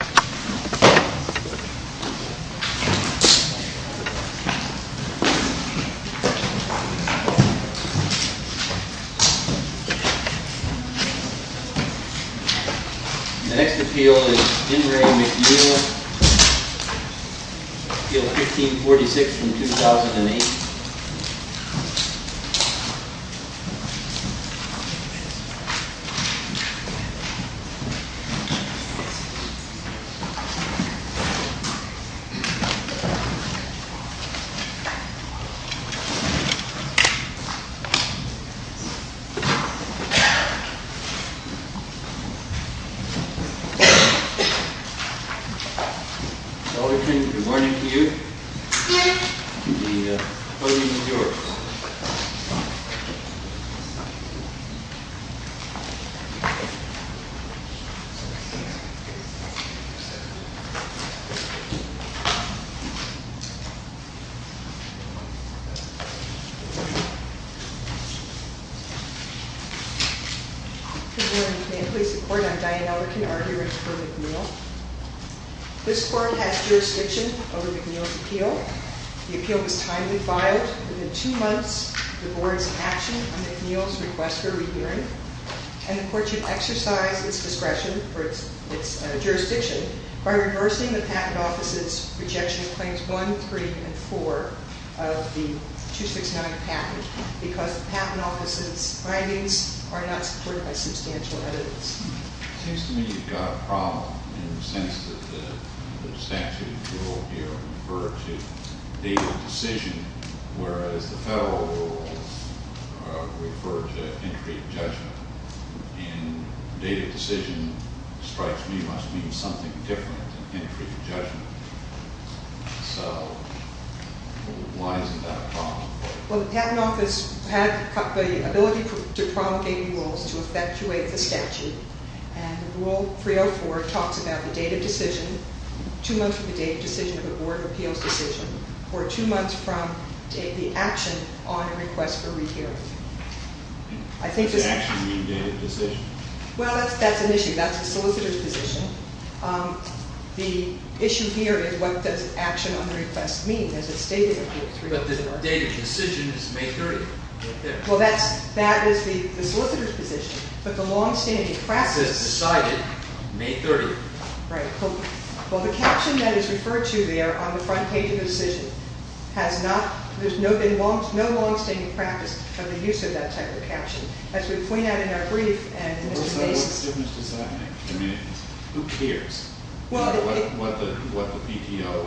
The next appeal is Henry McNeil, Appeal 1546 from 2008. Good morning, and may it please the court, I'm Diane Ellerkin, arguer in support of McNeil. This court has jurisdiction over McNeil's appeal. The appeal was timely filed. Within two months, the board is in action on McNeil's request for a re-hearing. And the court should exercise its discretion for its jurisdiction by reversing the Patent Office's rejection of Claims 1, 3, and 4 of the 269 package because the Patent Office's findings are not supported by substantial evidence. It seems to me you've got a problem in the sense that the statute will refer to date of decision, whereas the federal rules refer to entry of judgment. And date of decision, it strikes me, must mean something different than entry of judgment. So, why isn't that a problem? Well, the Patent Office had the ability to promulgate rules to effectuate the statute, and Rule 304 talks about the date of decision, two months from the date of decision of the Board of Appeals decision, or two months from the action on a request for re-hearing. Does action mean date of decision? Well, that's an issue. That's the solicitor's position. The issue here is what does action on the request mean? But the date of decision is May 30th, right there. Well, that is the solicitor's position, but the long-standing practice- It says decided May 30th. Right. Well, the caption that is referred to there on the front page of the decision has not- there's been no long-standing practice of the use of that type of caption. As we point out in our brief- What difference does that make? I mean, who cares what the PTO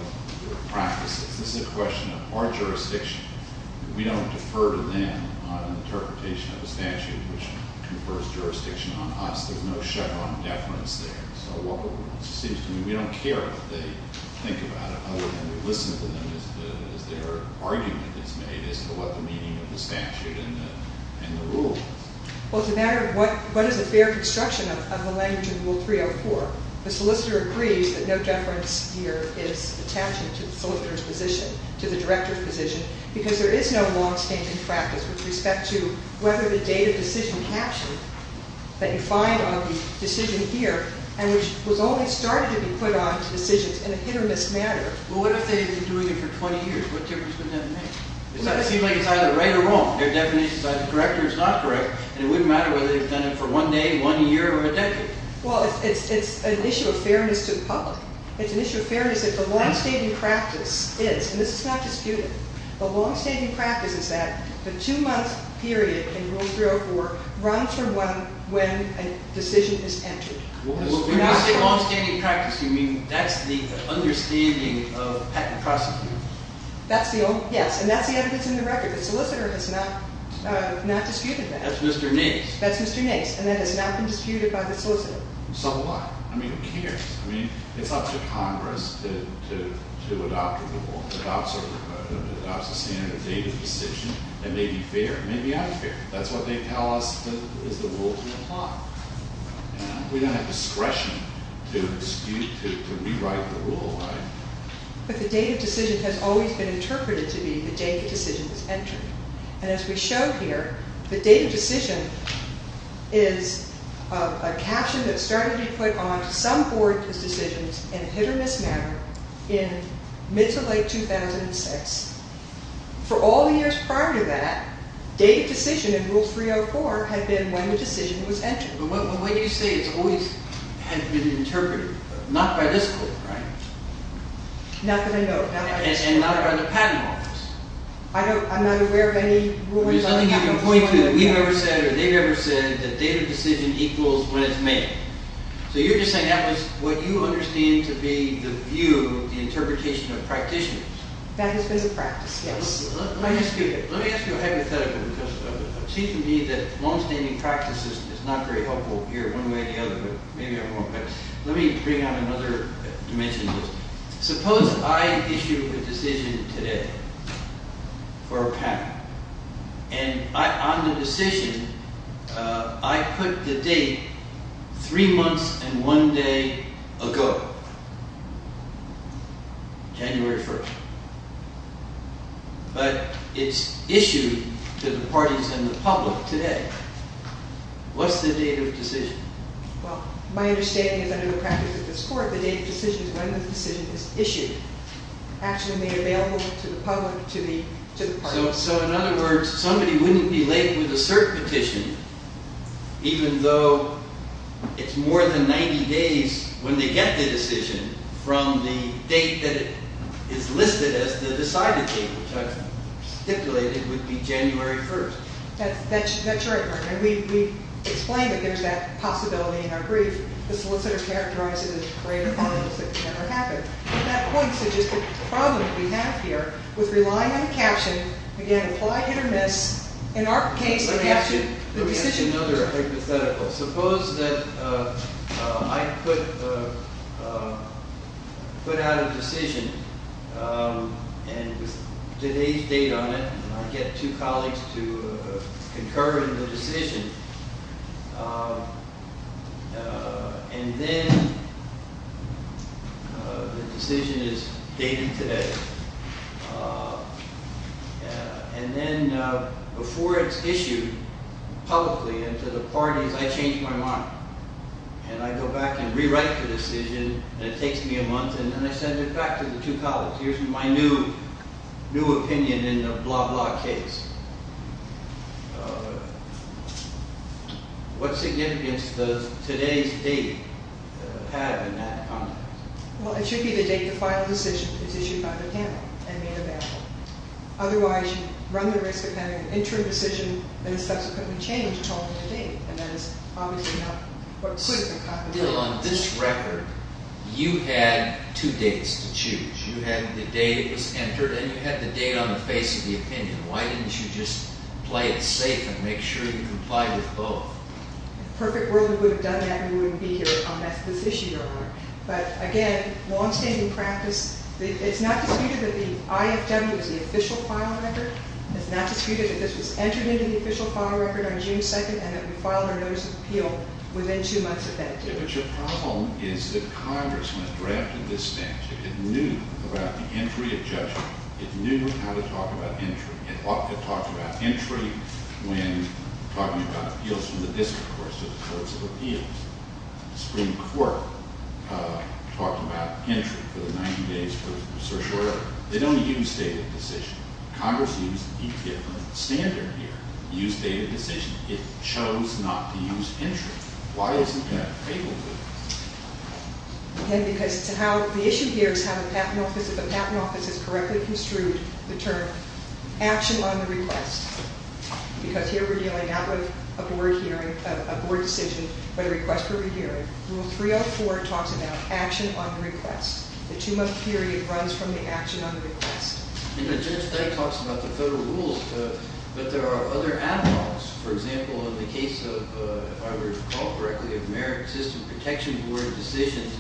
practices? This is a question of our jurisdiction. We don't defer to them on an interpretation of a statute which confers jurisdiction on us. There's no Chevron deference there. So, it seems to me we don't care what they think about it, other than we listen to them as their argument is made as to what the meaning of the statute and the rule is. Well, it's a matter of what is a fair construction of the language of Rule 304. The solicitor agrees that no deference here is attaching to the solicitor's position, to the director's position, because there is no long-standing practice with respect to whether the date of decision caption that you find on the decision here, and which was only started to be put on to decisions in a hit-or-miss manner. Well, what if they've been doing it for 20 years? What difference would that make? It seems like it's either right or wrong. Their definition is either correct or it's not correct, and it wouldn't matter whether they've done it for one day, one year, or a decade. Well, it's an issue of fairness to the public. It's an issue of fairness if the long-standing practice is, and this is not disputed, the long-standing practice is that the two-month period in Rule 304 runs from when a decision is entered. When you say long-standing practice, you mean that's the understanding of patent prosecuting? Yes, and that's the evidence in the record. The solicitor has not disputed that. That's Mr. Nace. That's Mr. Nace, and that has not been disputed by the solicitor. So what? I mean, who cares? I mean, it's up to Congress to adopt a rule, to adopt a standard of date of decision that may be fair. It may be unfair. That's what they tell us is the rule to apply. We don't have discretion to dispute, to rewrite the rule, right? But the date of decision has always been interpreted to be the day the decision was entered. And as we show here, the date of decision is a caption that started to be put onto some board decisions in hit-or-miss manner in mid to late 2006. For all the years prior to that, date of decision in Rule 304 had been when the decision was entered. But what do you say has always been interpreted? Not by this court, right? Not that I know of. And not by the Patent Office. I'm not aware of any rulings on the Patent Office. There's nothing you can point to that we've ever said or they've ever said that date of decision equals when it's made. So you're just saying that was what you understand to be the view, the interpretation of practitioners. That has been the practice, yes. Let me ask you a hypothetical because it seems to me that longstanding practice is not very helpful here one way or the other. But maybe I'm wrong. But let me bring out another dimension. Suppose I issue a decision today for a patent. And on the decision, I put the date three months and one day ago, January 1st. But it's issued to the parties and the public today. What's the date of decision? Well, my understanding is under the practice of this court, the date of decision is when the decision is issued. Actually made available to the public, to the parties. So in other words, somebody wouldn't be late with a cert petition even though it's more than 90 days when they get the decision from the date that is listed as the decided date, which I've stipulated would be January 1st. That's right, Martin. And we've explained that there's that possibility in our brief. The solicitor's characterized it as the greatest evidence that could ever happen. And that points to just the problem we have here with relying on the caption. Again, apply hit or miss. In our case, the caption, the decision. Let me ask you another hypothetical. Suppose that I put out a decision and today's date on it, and I get two colleagues to concur in the decision. And then the decision is dated today. And then before it's issued publicly and to the parties, I change my mind. And I go back and rewrite the decision, and it takes me a month, and then I send it back to the two colleagues. Here's my new opinion in the blah blah case. What significance does today's date have in that context? Well, it should be the date the final decision is issued by the panel and made available. Otherwise, you run the risk of having an interim decision that is subsequently changed according to date. And that is obviously not what should have been contemplated. On this record, you had two dates to choose. You had the date it was entered, and you had the date on the face of the opinion. Why didn't you just play it safe and make sure you complied with both? In a perfect world, if we would have done that, we wouldn't be here. But again, longstanding practice. It's not disputed that the IFW is the official final record. It's not disputed that this was entered into the official final record on June 2nd and that we filed our notice of appeal within two months of that date. But your problem is that Congress, when it drafted this statute, it knew about the entry of judgment. It knew how to talk about entry. It talked about entry when talking about appeals from the district courts to the courts of appeals. The Supreme Court talked about entry for the 90 days for the search order. They don't use date of decision. Congress used a different standard here. It used date of decision. It chose not to use entry. Why isn't that fabled? Again, because the issue here is how the Patent Office has correctly construed the term action on the request. Because here we're dealing not with a board hearing, a board decision, but a request for a hearing. Rule 304 talks about action on request. The two-month period runs from the action on request. And the judge then talks about the federal rules, but there are other analogs. For example, in the case of, if I recall correctly, of Merit System Protection Board decisions,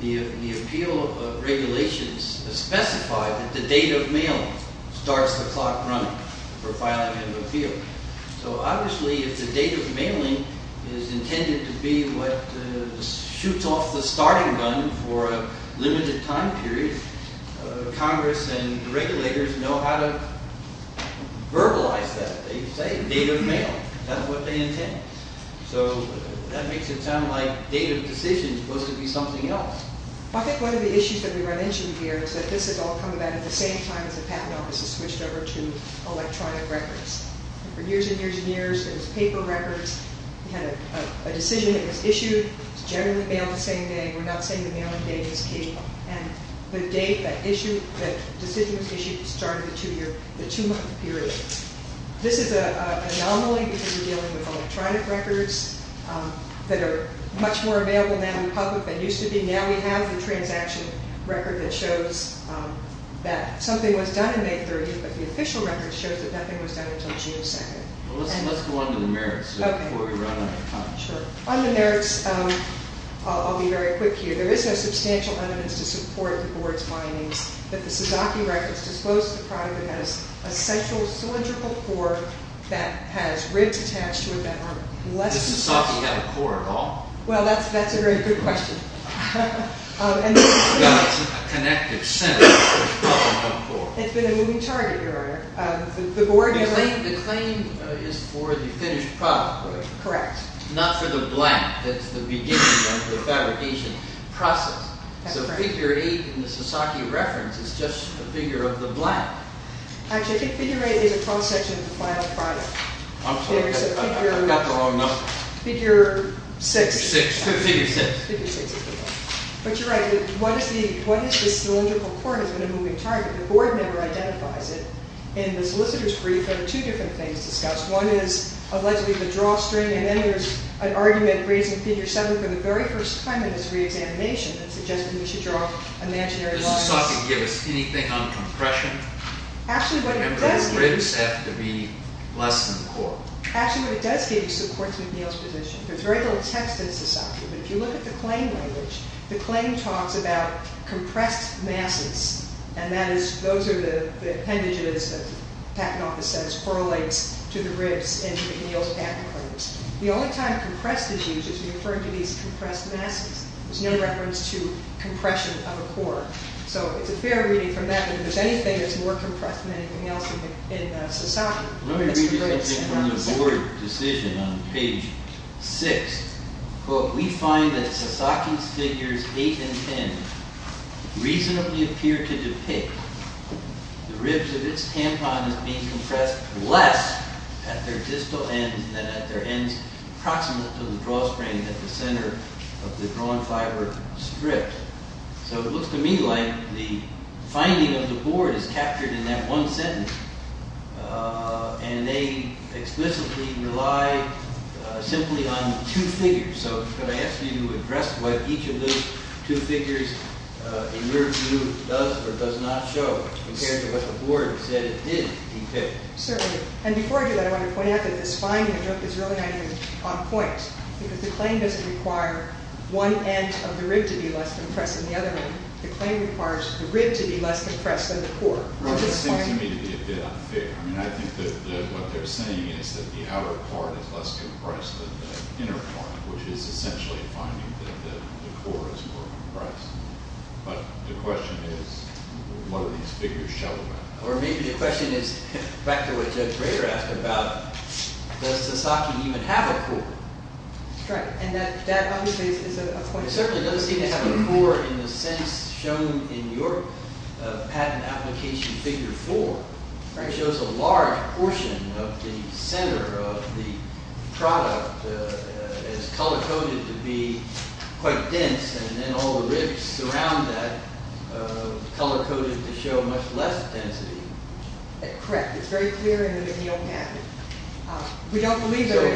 the appeal regulations specify that the date of mailing starts the clock running for filing an appeal. So obviously, if the date of mailing is intended to be what shoots off the starting gun for a limited time period, Congress and regulators know how to verbalize that. They say, date of mail. That's what they intend. So that makes it sound like date of decision is supposed to be something else. I think one of the issues that we were mentioning here is that this has all come about at the same time as the Patent Office has switched over to electronic records. For years and years and years, there was paper records. We had a decision that was issued. It was generally mailed the same day. We're not saying the mailing date is key. And the date that decision was issued started the two-month period. This is an anomaly because we're dealing with electronic records that are much more available now in public than used to be. Now we have the transaction record that shows that something was done in May 30th, but the official record shows that nothing was done until June 2nd. Let's go on to the merits before we run out of time. Sure. On the merits, I'll be very quick here. There is no substantial evidence to support the board's findings that the Sasaki records dispose of the product that has a central cylindrical core that has ribs attached to it that are less… Does Sasaki have a core at all? Well, that's a very good question. It's a connective center. It's been a moving target, Your Honor. The claim is for the finished product. Correct. Not for the blank that's the beginning of the fabrication process. So figure 8 in the Sasaki reference is just a figure of the blank. Actually, I think figure 8 is a cross-section of the final product. I'm sorry. I've got the wrong number. Figure 6. Figure 6. But you're right. What is the cylindrical core has been a moving target. The board never identifies it. In the solicitor's brief, there are two different things discussed. One is allegedly the drawstring, and then there's an argument raising figure 7 for the very first time in this reexamination that suggested we should draw imaginary lines. Does Sasaki give us anything on compression? Actually, what it does give… The ribs have to be less than the core. Actually, what it does give is support to McNeil's position. There's very little text in Sasaki, but if you look at the claim language, the claim talks about compressed masses, and those are the appendages that the patent office says correlates to the ribs in McNeil's patent claims. The only time compressed is used is when you refer to these compressed masses. There's no reference to compression of a core. So it's a fair reading from that, but if there's anything that's more compressed than anything else in Sasaki… Let me read you something from the board decision on page 6. We find that Sasaki's figures 8 and 10 reasonably appear to depict the ribs of its tampons being compressed less at their distal ends than at their ends approximate to the drawstring at the center of the drawn fiber strip. So it looks to me like the finding of the board is captured in that one sentence, and they explicitly rely simply on two figures. So could I ask you to address what each of those two figures in your view does or does not show compared to what the board said it did depict? Certainly. And before I do that, I want to point out that this finding is really not even on point, because the claim doesn't require one end of the rib to be less compressed than the other end. The claim requires the rib to be less compressed than the core. That seems to me to be a bit unfair. I mean, I think that what they're saying is that the outer part is less compressed than the inner part, which is essentially finding that the core is more compressed. But the question is, what do these figures show about that? Or maybe the question is, back to what Judge Rader asked about, does Sasaki even have a core? That's right. And that obviously is a point… It certainly doesn't seem to have a core in the sense shown in your patent application figure 4. It shows a large portion of the center of the product is color-coded to be quite dense, and then all the ribs around that are color-coded to show much less density. Correct. It's very clear in the McNeil patent.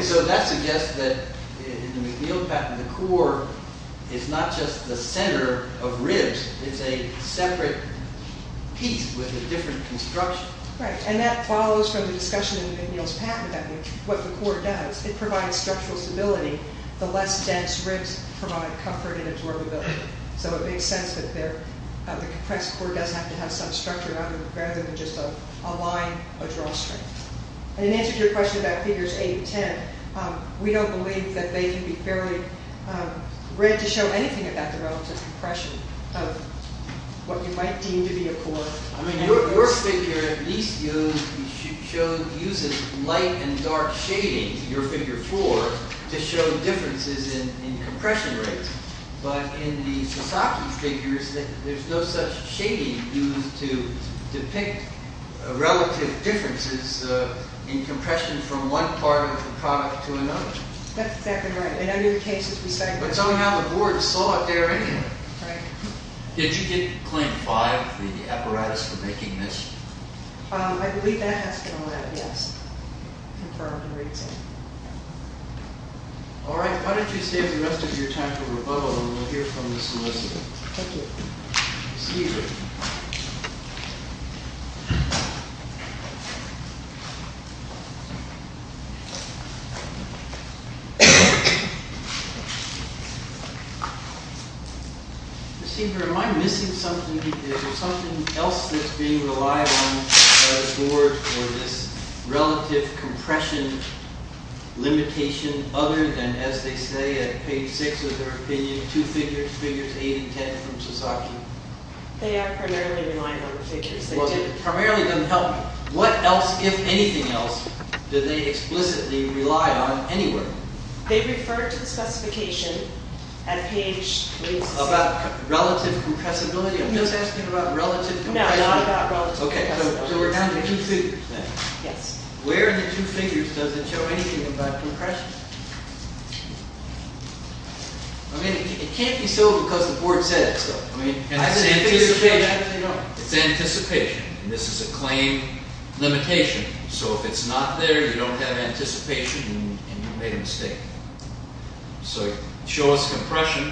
So that suggests that in the McNeil patent, the core is not just the center of ribs. It's a separate piece with a different construction. Right. And that follows from the discussion in the McNeil patent about what the core does. It provides structural stability. The less dense ribs provide comfort and absorbability. So it makes sense that the compressed core doesn't have to have some structure around it, rather than just a line, a drawstring. And in answer to your question about figures 8 and 10, we don't believe that they can be fairly read to show anything about the relative compression of what you might deem to be a core. I mean, your figure at least uses light and dark shading, your figure 4, to show differences in compression rates. But in the Sasaki figures, there's no such shading used to depict relative differences in compression from one part of the product to another. That's exactly right. In other cases, we say... But somehow the board saw it there anyway. Did you get claim 5 for the apparatus for making this? I believe that has been allowed, yes. All right. Why don't you save the rest of your time for rebuttal, and we'll hear from the solicitor. Thank you. Receiver. Receiver, am I missing something? Is there something else that's being relied on for this relative compression limitation, other than, as they say at page 6 of their opinion, two figures, figures 8 and 10 from Sasaki? They are primarily relying on the figures. Primarily doesn't help me. What else, if anything else, do they explicitly rely on anywhere? They refer to the specification at page... About relative compressibility? No, they're asking about relative compression. No, not about relative compressibility. Okay, so we're down to two figures, then? Yes. Where in the two figures does it show anything about compression? I mean, it can't be so because the board said so. I mean, it's anticipation. It's anticipation. This is a claim limitation. So if it's not there, you don't have anticipation, and you've made a mistake. So show us compression,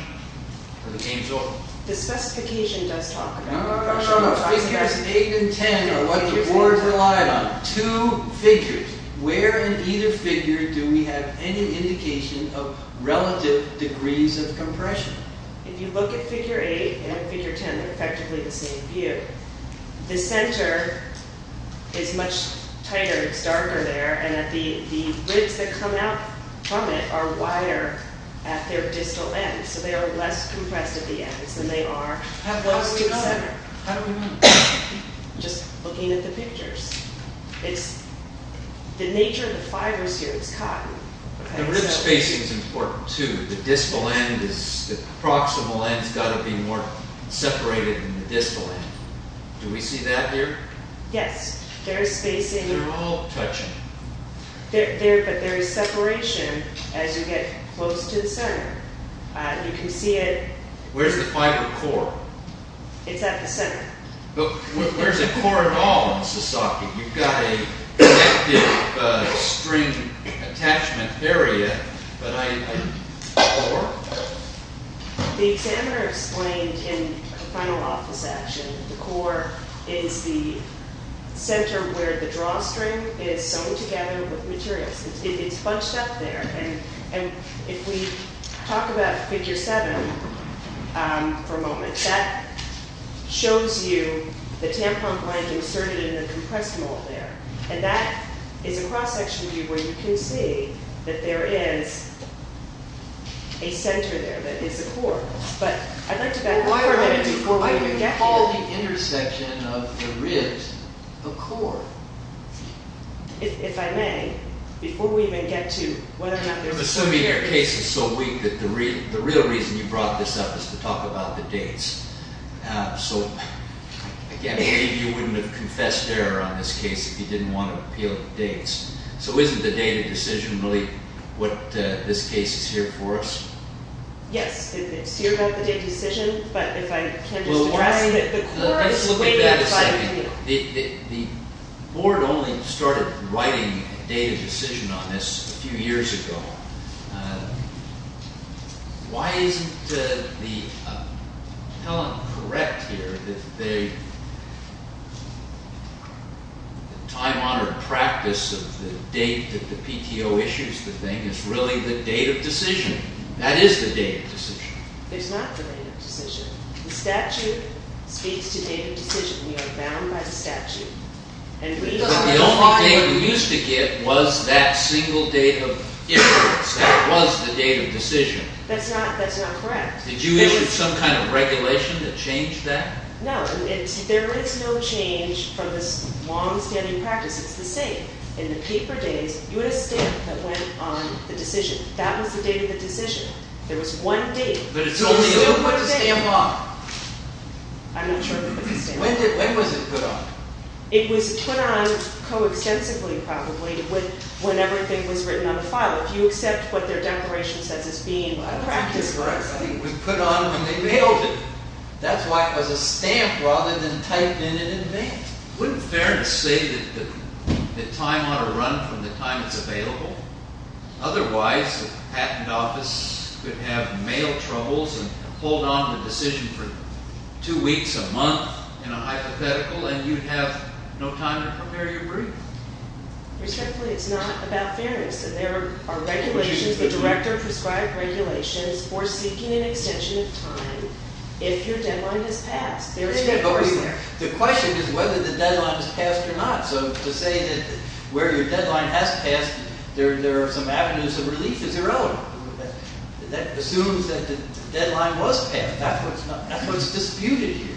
or the game's over. The specification does talk about compression. No, no, no. Figures 8 and 10 are what the board's relied on. Two figures. Where in either figure do we have any indication of relative degrees of compression? If you look at figure 8 and figure 10, they're effectively the same view. The center is much tighter. It's darker there, and the ribs that come out from it are wider at their distal ends, so they are less compressed at the ends than they are... How close to the center? How do we know? Just looking at the pictures. It's the nature of the fibers here. It's cotton. The rib spacing is important, too. The proximal end's got to be more separated than the distal end. Do we see that here? Yes. There is spacing. They're all touching. But there is separation as you get close to the center. You can see it... Where's the fiber core? It's at the center. But where's the core at all in Sasaki? You've got an active string attachment area, but I... The examiner explained in the final office action, the core is the center where the drawstring is sewn together with materials. It's bunched up there. If we talk about Figure 7 for a moment, that shows you the tampon blind inserted in the compressed mold there. That is a cross-section view where you can see that there is a center there, that is a core. But I'd like to back up for a minute before we even get to it. I would call the intersection of the ribs a core. If I may, before we even get to whether or not there was... I'm assuming your case is so weak that the real reason you brought this up is to talk about the dates. So, again, maybe you wouldn't have confessed error on this case if you didn't want to appeal the dates. So isn't the data decision really what this case is here for us? Yes. It's here about the data decision, but if I can just address... Let's look at that a second. The board only started writing a data decision on this a few years ago. Why isn't Helen correct here that the time-honored practice of the date that the PTO issues the thing is really the date of decision? That is the date of decision. It's not the date of decision. The statute speaks to date of decision. We are bound by the statute. But the only date we used to get was that single date of issuance. That was the date of decision. That's not correct. Did you issue some kind of regulation that changed that? No. There is no change from this long-standing practice. It's the same. In the paper days, you had a stamp that went on the decision. That was the date of the decision. There was one date. Who put the stamp on? I'm not sure who put the stamp on. When was it put on? It was put on coextensively probably when everything was written on the file. If you accept what their declaration says as being a practice... I think it was put on when they mailed it. That's why it was a stamp rather than typed in and then mailed. Wouldn't it be fair to say that the time-honored run from the time it's available? Otherwise, the patent office could have mail troubles and hold on to the decision for two weeks, a month, in a hypothetical, and you'd have no time to prepare your brief. Respectfully, it's not about fairness. There are regulations. The Director prescribed regulations for seeking an extension of time if your deadline has passed. The question is whether the deadline has passed or not. So to say that where your deadline has passed, there are some avenues of relief is irrelevant. That assumes that the deadline was passed. That's what's disputed here.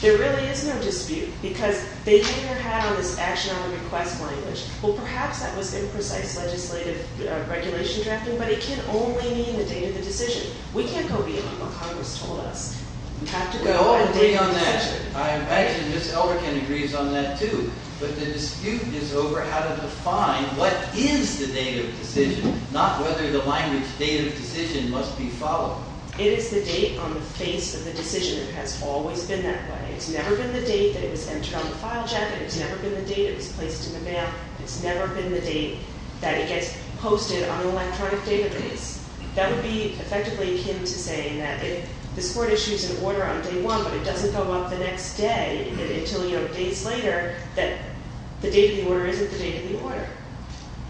There really is no dispute because they didn't have this action on the request language. Well, perhaps that was imprecise legislative regulation drafting, but it can only mean the date of the decision. We can't go beyond what Congress told us. We have to go beyond that. I imagine Ms. Elrican agrees on that too, but the dispute is over how to define what is the date of decision, not whether the language date of decision must be followed. It is the date on the face of the decision. It has always been that way. It's never been the date that it was entered on the file jacket. It's never been the date it was placed in the mail. It's never been the date that it gets posted on an electronic database. That would be effectively him to say that if this court issues an order on day one, but it doesn't go up the next day until days later, that the date of the order isn't the date of the order,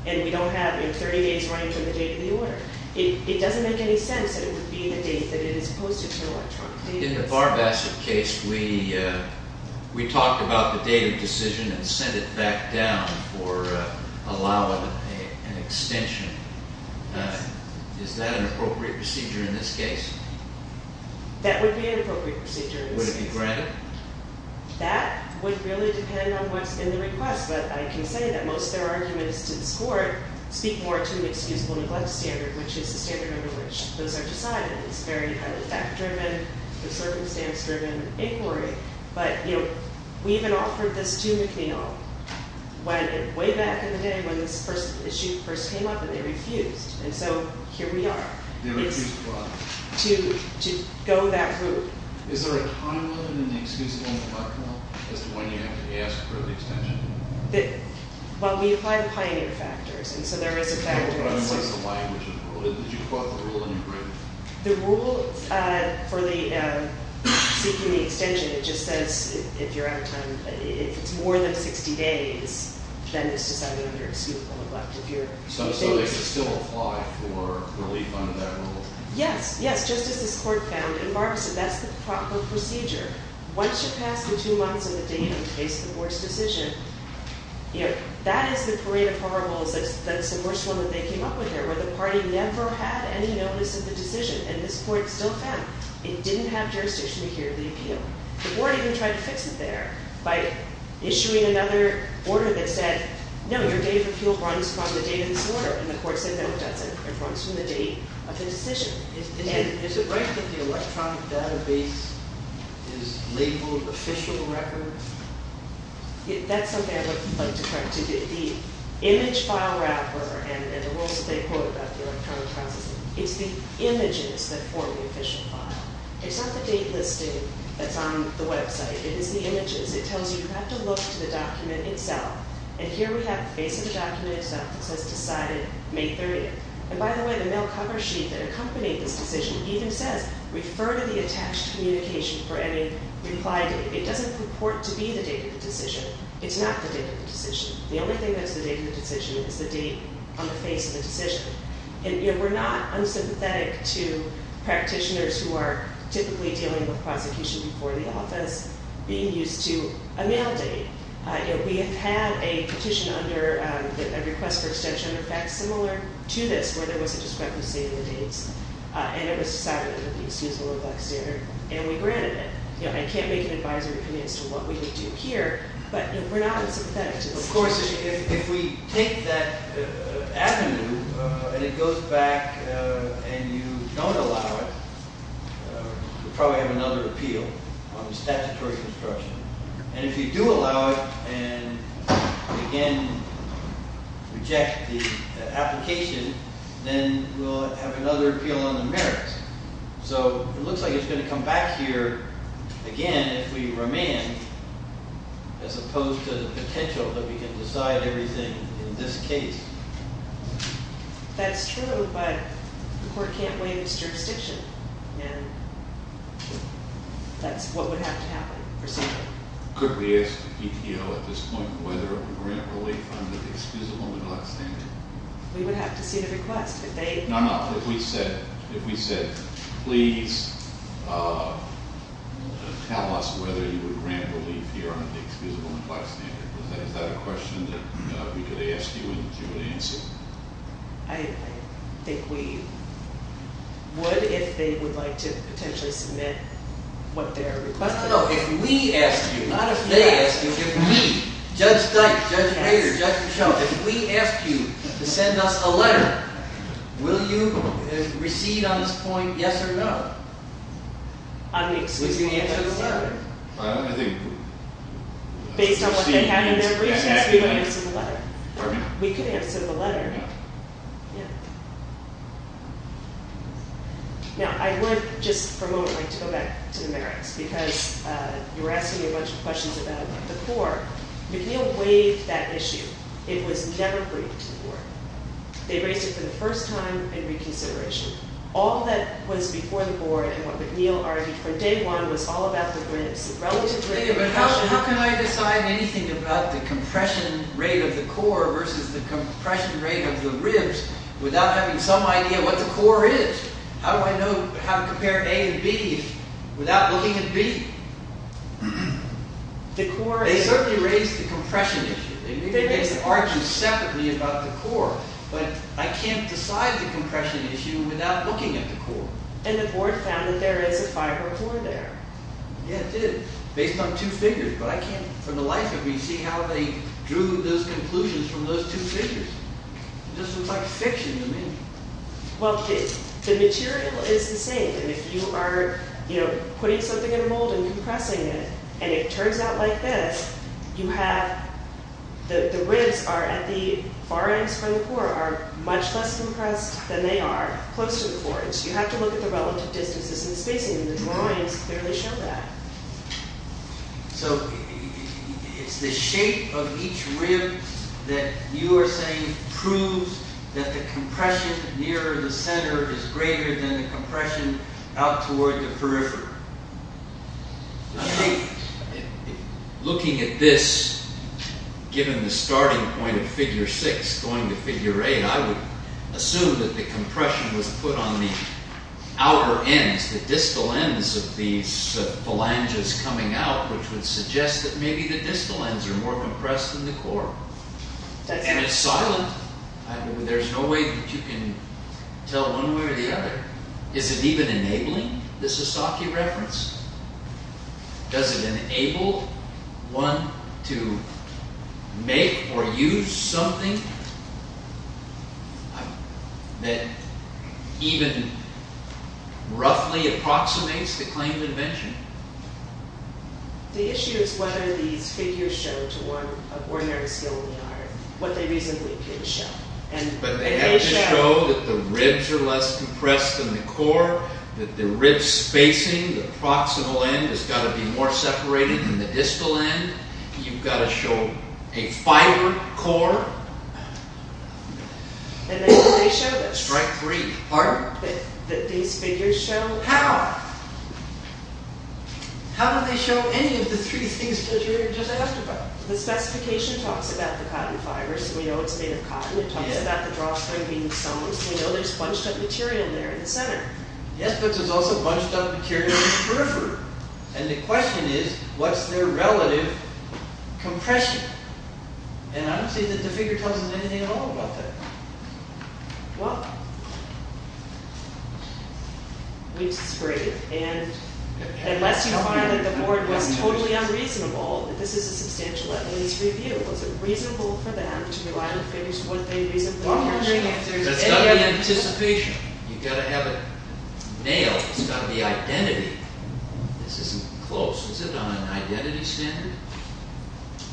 and we don't have 30 days running from the date of the order. It doesn't make any sense that it would be the date that it is posted to an electronic database. In the Barb Asset case, we talked about the date of decision and sent it back down for allowing an extension. Is that an appropriate procedure in this case? That would be an appropriate procedure in this case. Would it be granted? That would really depend on what's in the request, but I can say that most of their arguments to this court speak more to the excusable neglect standard, which is the standard under which those are decided. It's very highly fact-driven, circumstance-driven inquiry, but we even offered this to McNeil way back in the day when this issue first came up, and they refused, and so here we are. They refused to what? To go that route. Is there a time limit in the excusable neglect law as to when you have to ask for the extension? Well, we apply the pioneer factors, and so there is a factor. What is the language of the rule? Did you quote the rule in your brief? The rule for seeking the extension, it just says if you're out of time, if it's more than 60 days, then it's decided under excusable neglect. So they could still apply for relief under that rule? Yes, yes, just as this court found in Barbason. That's the proper procedure. Once you pass the two months and the date in the case of the worst decision, that is the parade of horribles. That's the worst one that they came up with there, where the party never had any notice of the decision, and this court still found. It didn't have jurisdiction to hear the appeal. The board even tried to fix it there by issuing another order that said, no, your date of appeal runs from the date of this order, and the court said no, it doesn't. It runs from the date of the decision. Is it right that the electronic database is labeled official record? That's something I would like to correct. The image file wrapper and the rules that they quote about the electronic processing, it's the images that form the official file. It's not the date listing that's on the website. It is the images. It tells you you have to look to the document itself, and here we have the face of the document itself that says decided May 30th. And by the way, the mail cover sheet that accompanied this decision even says refer to the attached communication for any reply date. It doesn't report to be the date of the decision. It's not the date of the decision. The only thing that's the date of the decision is the date on the face of the decision. And we're not unsympathetic to practitioners who are typically dealing with prosecution before the office being used to a mail date. You know, we have had a petition under a request for extension, in fact, similar to this, where there was a discrepancy in the dates, and it was decided that it would be excusable in black standard, and we granted it. You know, I can't make an advisory comment as to what we would do here, but we're not unsympathetic to this. Of course, if we take that avenue and it goes back and you don't allow it, we'll probably have another appeal on the statutory construction. And if you do allow it and, again, reject the application, then we'll have another appeal on the merits. So it looks like it's going to come back here again if we remand, as opposed to the potential that we can decide everything in this case. That's true, but the court can't waive its jurisdiction, and that's what would have to happen. Could we ask the PTO at this point whether it would grant relief under the excusable in black standard? We would have to see the request, but they... No, no, if we said, please tell us whether you would grant relief here under the excusable in black standard, is that a question that we could ask you and you would answer? I think we would if they would like to potentially submit what they're requesting. No, no, no, if we ask you, not if they ask you, if we, Judge Dike, Judge Hayter, Judge Michaud, if we ask you to send us a letter, will you recede on this point yes or no? On the excusable in black standard? We can answer the letter. Based on what they have in their briefcase, we would answer the letter. We could answer the letter, yeah. Now, I would just for a moment like to go back to the merits because you were asking a bunch of questions about it before. McNeil waived that issue. It was never briefed to the board. They raised it for the first time in reconsideration. All that was before the board and what McNeil argued from day one was all about the ribs. But how can I decide anything about the compression rate of the core versus the compression rate of the ribs without having some idea what the core is? How do I know how to compare A and B without looking at B? They certainly raised the compression issue. They may have argued separately about the core, but I can't decide the compression issue without looking at the core. And the board found that there is a fiber core there. Yeah, it did, based on two figures. But I can't, for the life of me, see how they drew those conclusions from those two figures. It just looks like fiction to me. Well, the material is the same. And if you are, you know, putting something in a mold and compressing it, and it turns out like this, you have the ribs are at the far ends from the core are much less compressed than they are close to the core. You have to look at the relative distances and spacing, and the drawings clearly show that. So, it's the shape of each rib that you are saying proves that the compression nearer the center is greater than the compression out toward the periphery. Looking at this, given the starting point of figure 6 going to figure 8, I would assume that the compression was put on the outer ends, the distal ends of these phalanges coming out, which would suggest that maybe the distal ends are more compressed than the core. And it's silent. There's no way that you can tell one way or the other. Is it even enabling the Sasaki reference? Does it enable one to make or use something that even roughly approximates the claim of invention? The issue is whether these figures show to one of ordinary skill in the art what they reasonably could show. But they have to show that the ribs are less compressed than the core, that the ribs spacing, the proximal end has got to be more separated than the distal end. You've got to show a fiber core. Strike three. Pardon? That these figures show... How? How do they show any of the three things that you were just asking about? The specification talks about the cotton fiber, so we know it's made of cotton. It talks about the drawstring being sewn, so we know there's bunched up material there in the center. Yes, but there's also bunched up material in the periphery. And the question is, what's their relative compression? And I don't see that the figure tells us anything at all about that. Well, we disagree. And unless you find that the board was totally unreasonable, this is a substantial at least review. Was it reasonable for them to rely on figures? That's got to be anticipation. You've got to have it nailed. It's got to be identity. This isn't close. Is it on an identity standard?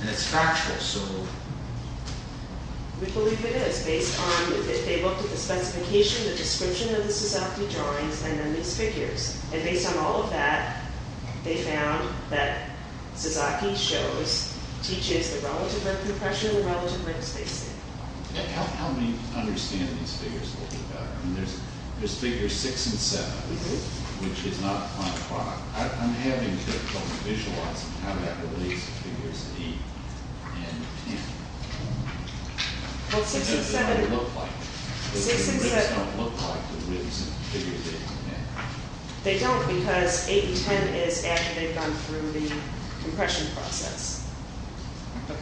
And it's factual, so... We believe it is, based on, if they looked at the specification, the description of the Sasaki drawings, and then these figures. And based on all of that, they found that Sasaki shows, teaches the relative rate of compression and the relative rate of spacing. How many understand these figures? There's figures six and seven, which is not quite correct. I'm having difficulty visualizing how that relates to figures eight and ten. Well, six and seven... It doesn't look like it. The figures don't look like the figures they found there. They don't, because eight and ten is after they've gone through the compression process.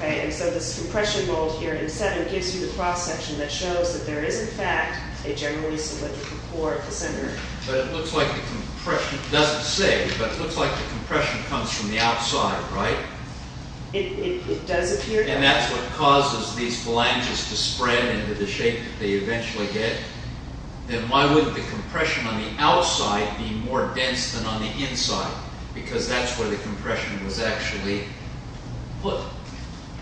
And so this compression mold here in seven gives you the cross-section that shows that there is, in fact, a generally solid core at the center. But it looks like the compression... It doesn't say, but it looks like the compression comes from the outside, right? It does appear that way. And that's what causes these phalanges to spread into the shape that they eventually get. Then why wouldn't the compression on the outside be more dense than on the inside? Because that's where the compression was actually put.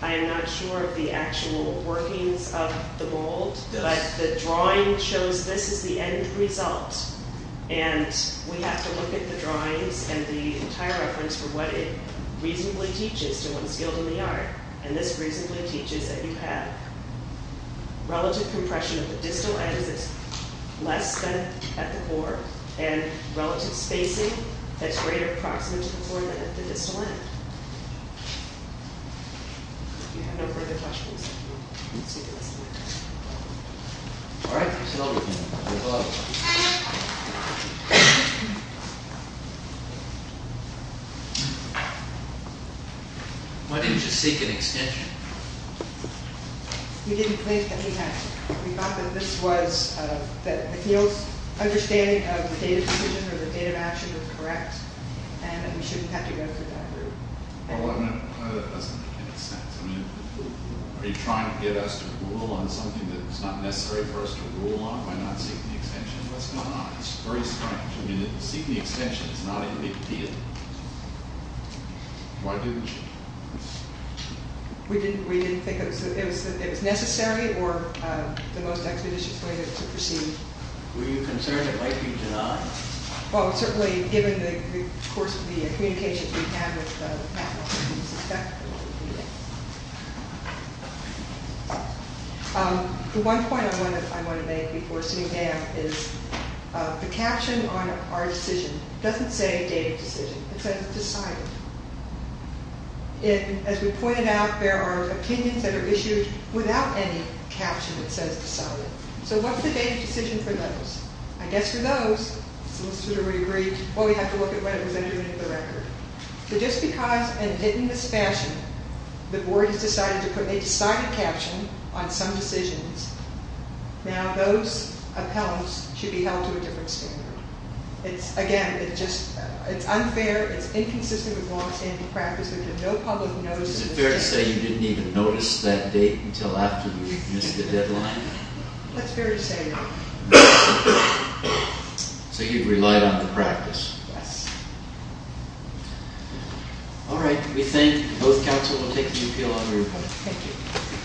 I am not sure of the actual workings of the mold, but the drawing shows this is the end result. And we have to look at the drawings and the entire reference for what it reasonably teaches to one skilled in the art. And this reasonably teaches that you have relative compression of the distal end that's less than at the core, and relative spacing that's greater approximate to the core than at the distal end. If you have no further questions, let's take a listen. All right. Why didn't you just seek an extension? We didn't think that we had to. We thought that this was, that the field's understanding of the date of decision or the date of action was correct, and that we shouldn't have to go through that group. Well, I mean, that doesn't make any sense. I mean, are you trying to get us to rule on something that's not necessary for us to rule on by not seeking the extension? What's going on? Seeking the extension is not a big deal. Why didn't you? We didn't think it was necessary or the most expeditious way to proceed. Were you concerned Well, certainly, given the course of the communications we've had with the faculty, we suspect that we needed it. The one point I want to make before sitting down is the caption on our decision doesn't say date of decision. It says decided. As we pointed out, there are opinions that are issued without any caption that says decided. So what's the date of decision for those? I guess for those, the solicitor would agree, well, we'd have to look at what it was going to do to the record. So just because in this fashion, the board has decided to put a decided caption on some decisions, now those appellants should be held to a different standard. It's, again, it's just unfair, it's inconsistent with long-standing practice because no public knows Is it fair to say you didn't even notice that date until after you missed the deadline? That's fair to say. So you've relied on the practice. Yes. All right. We thank both counsel. We'll take the appeal on your report. Thank you.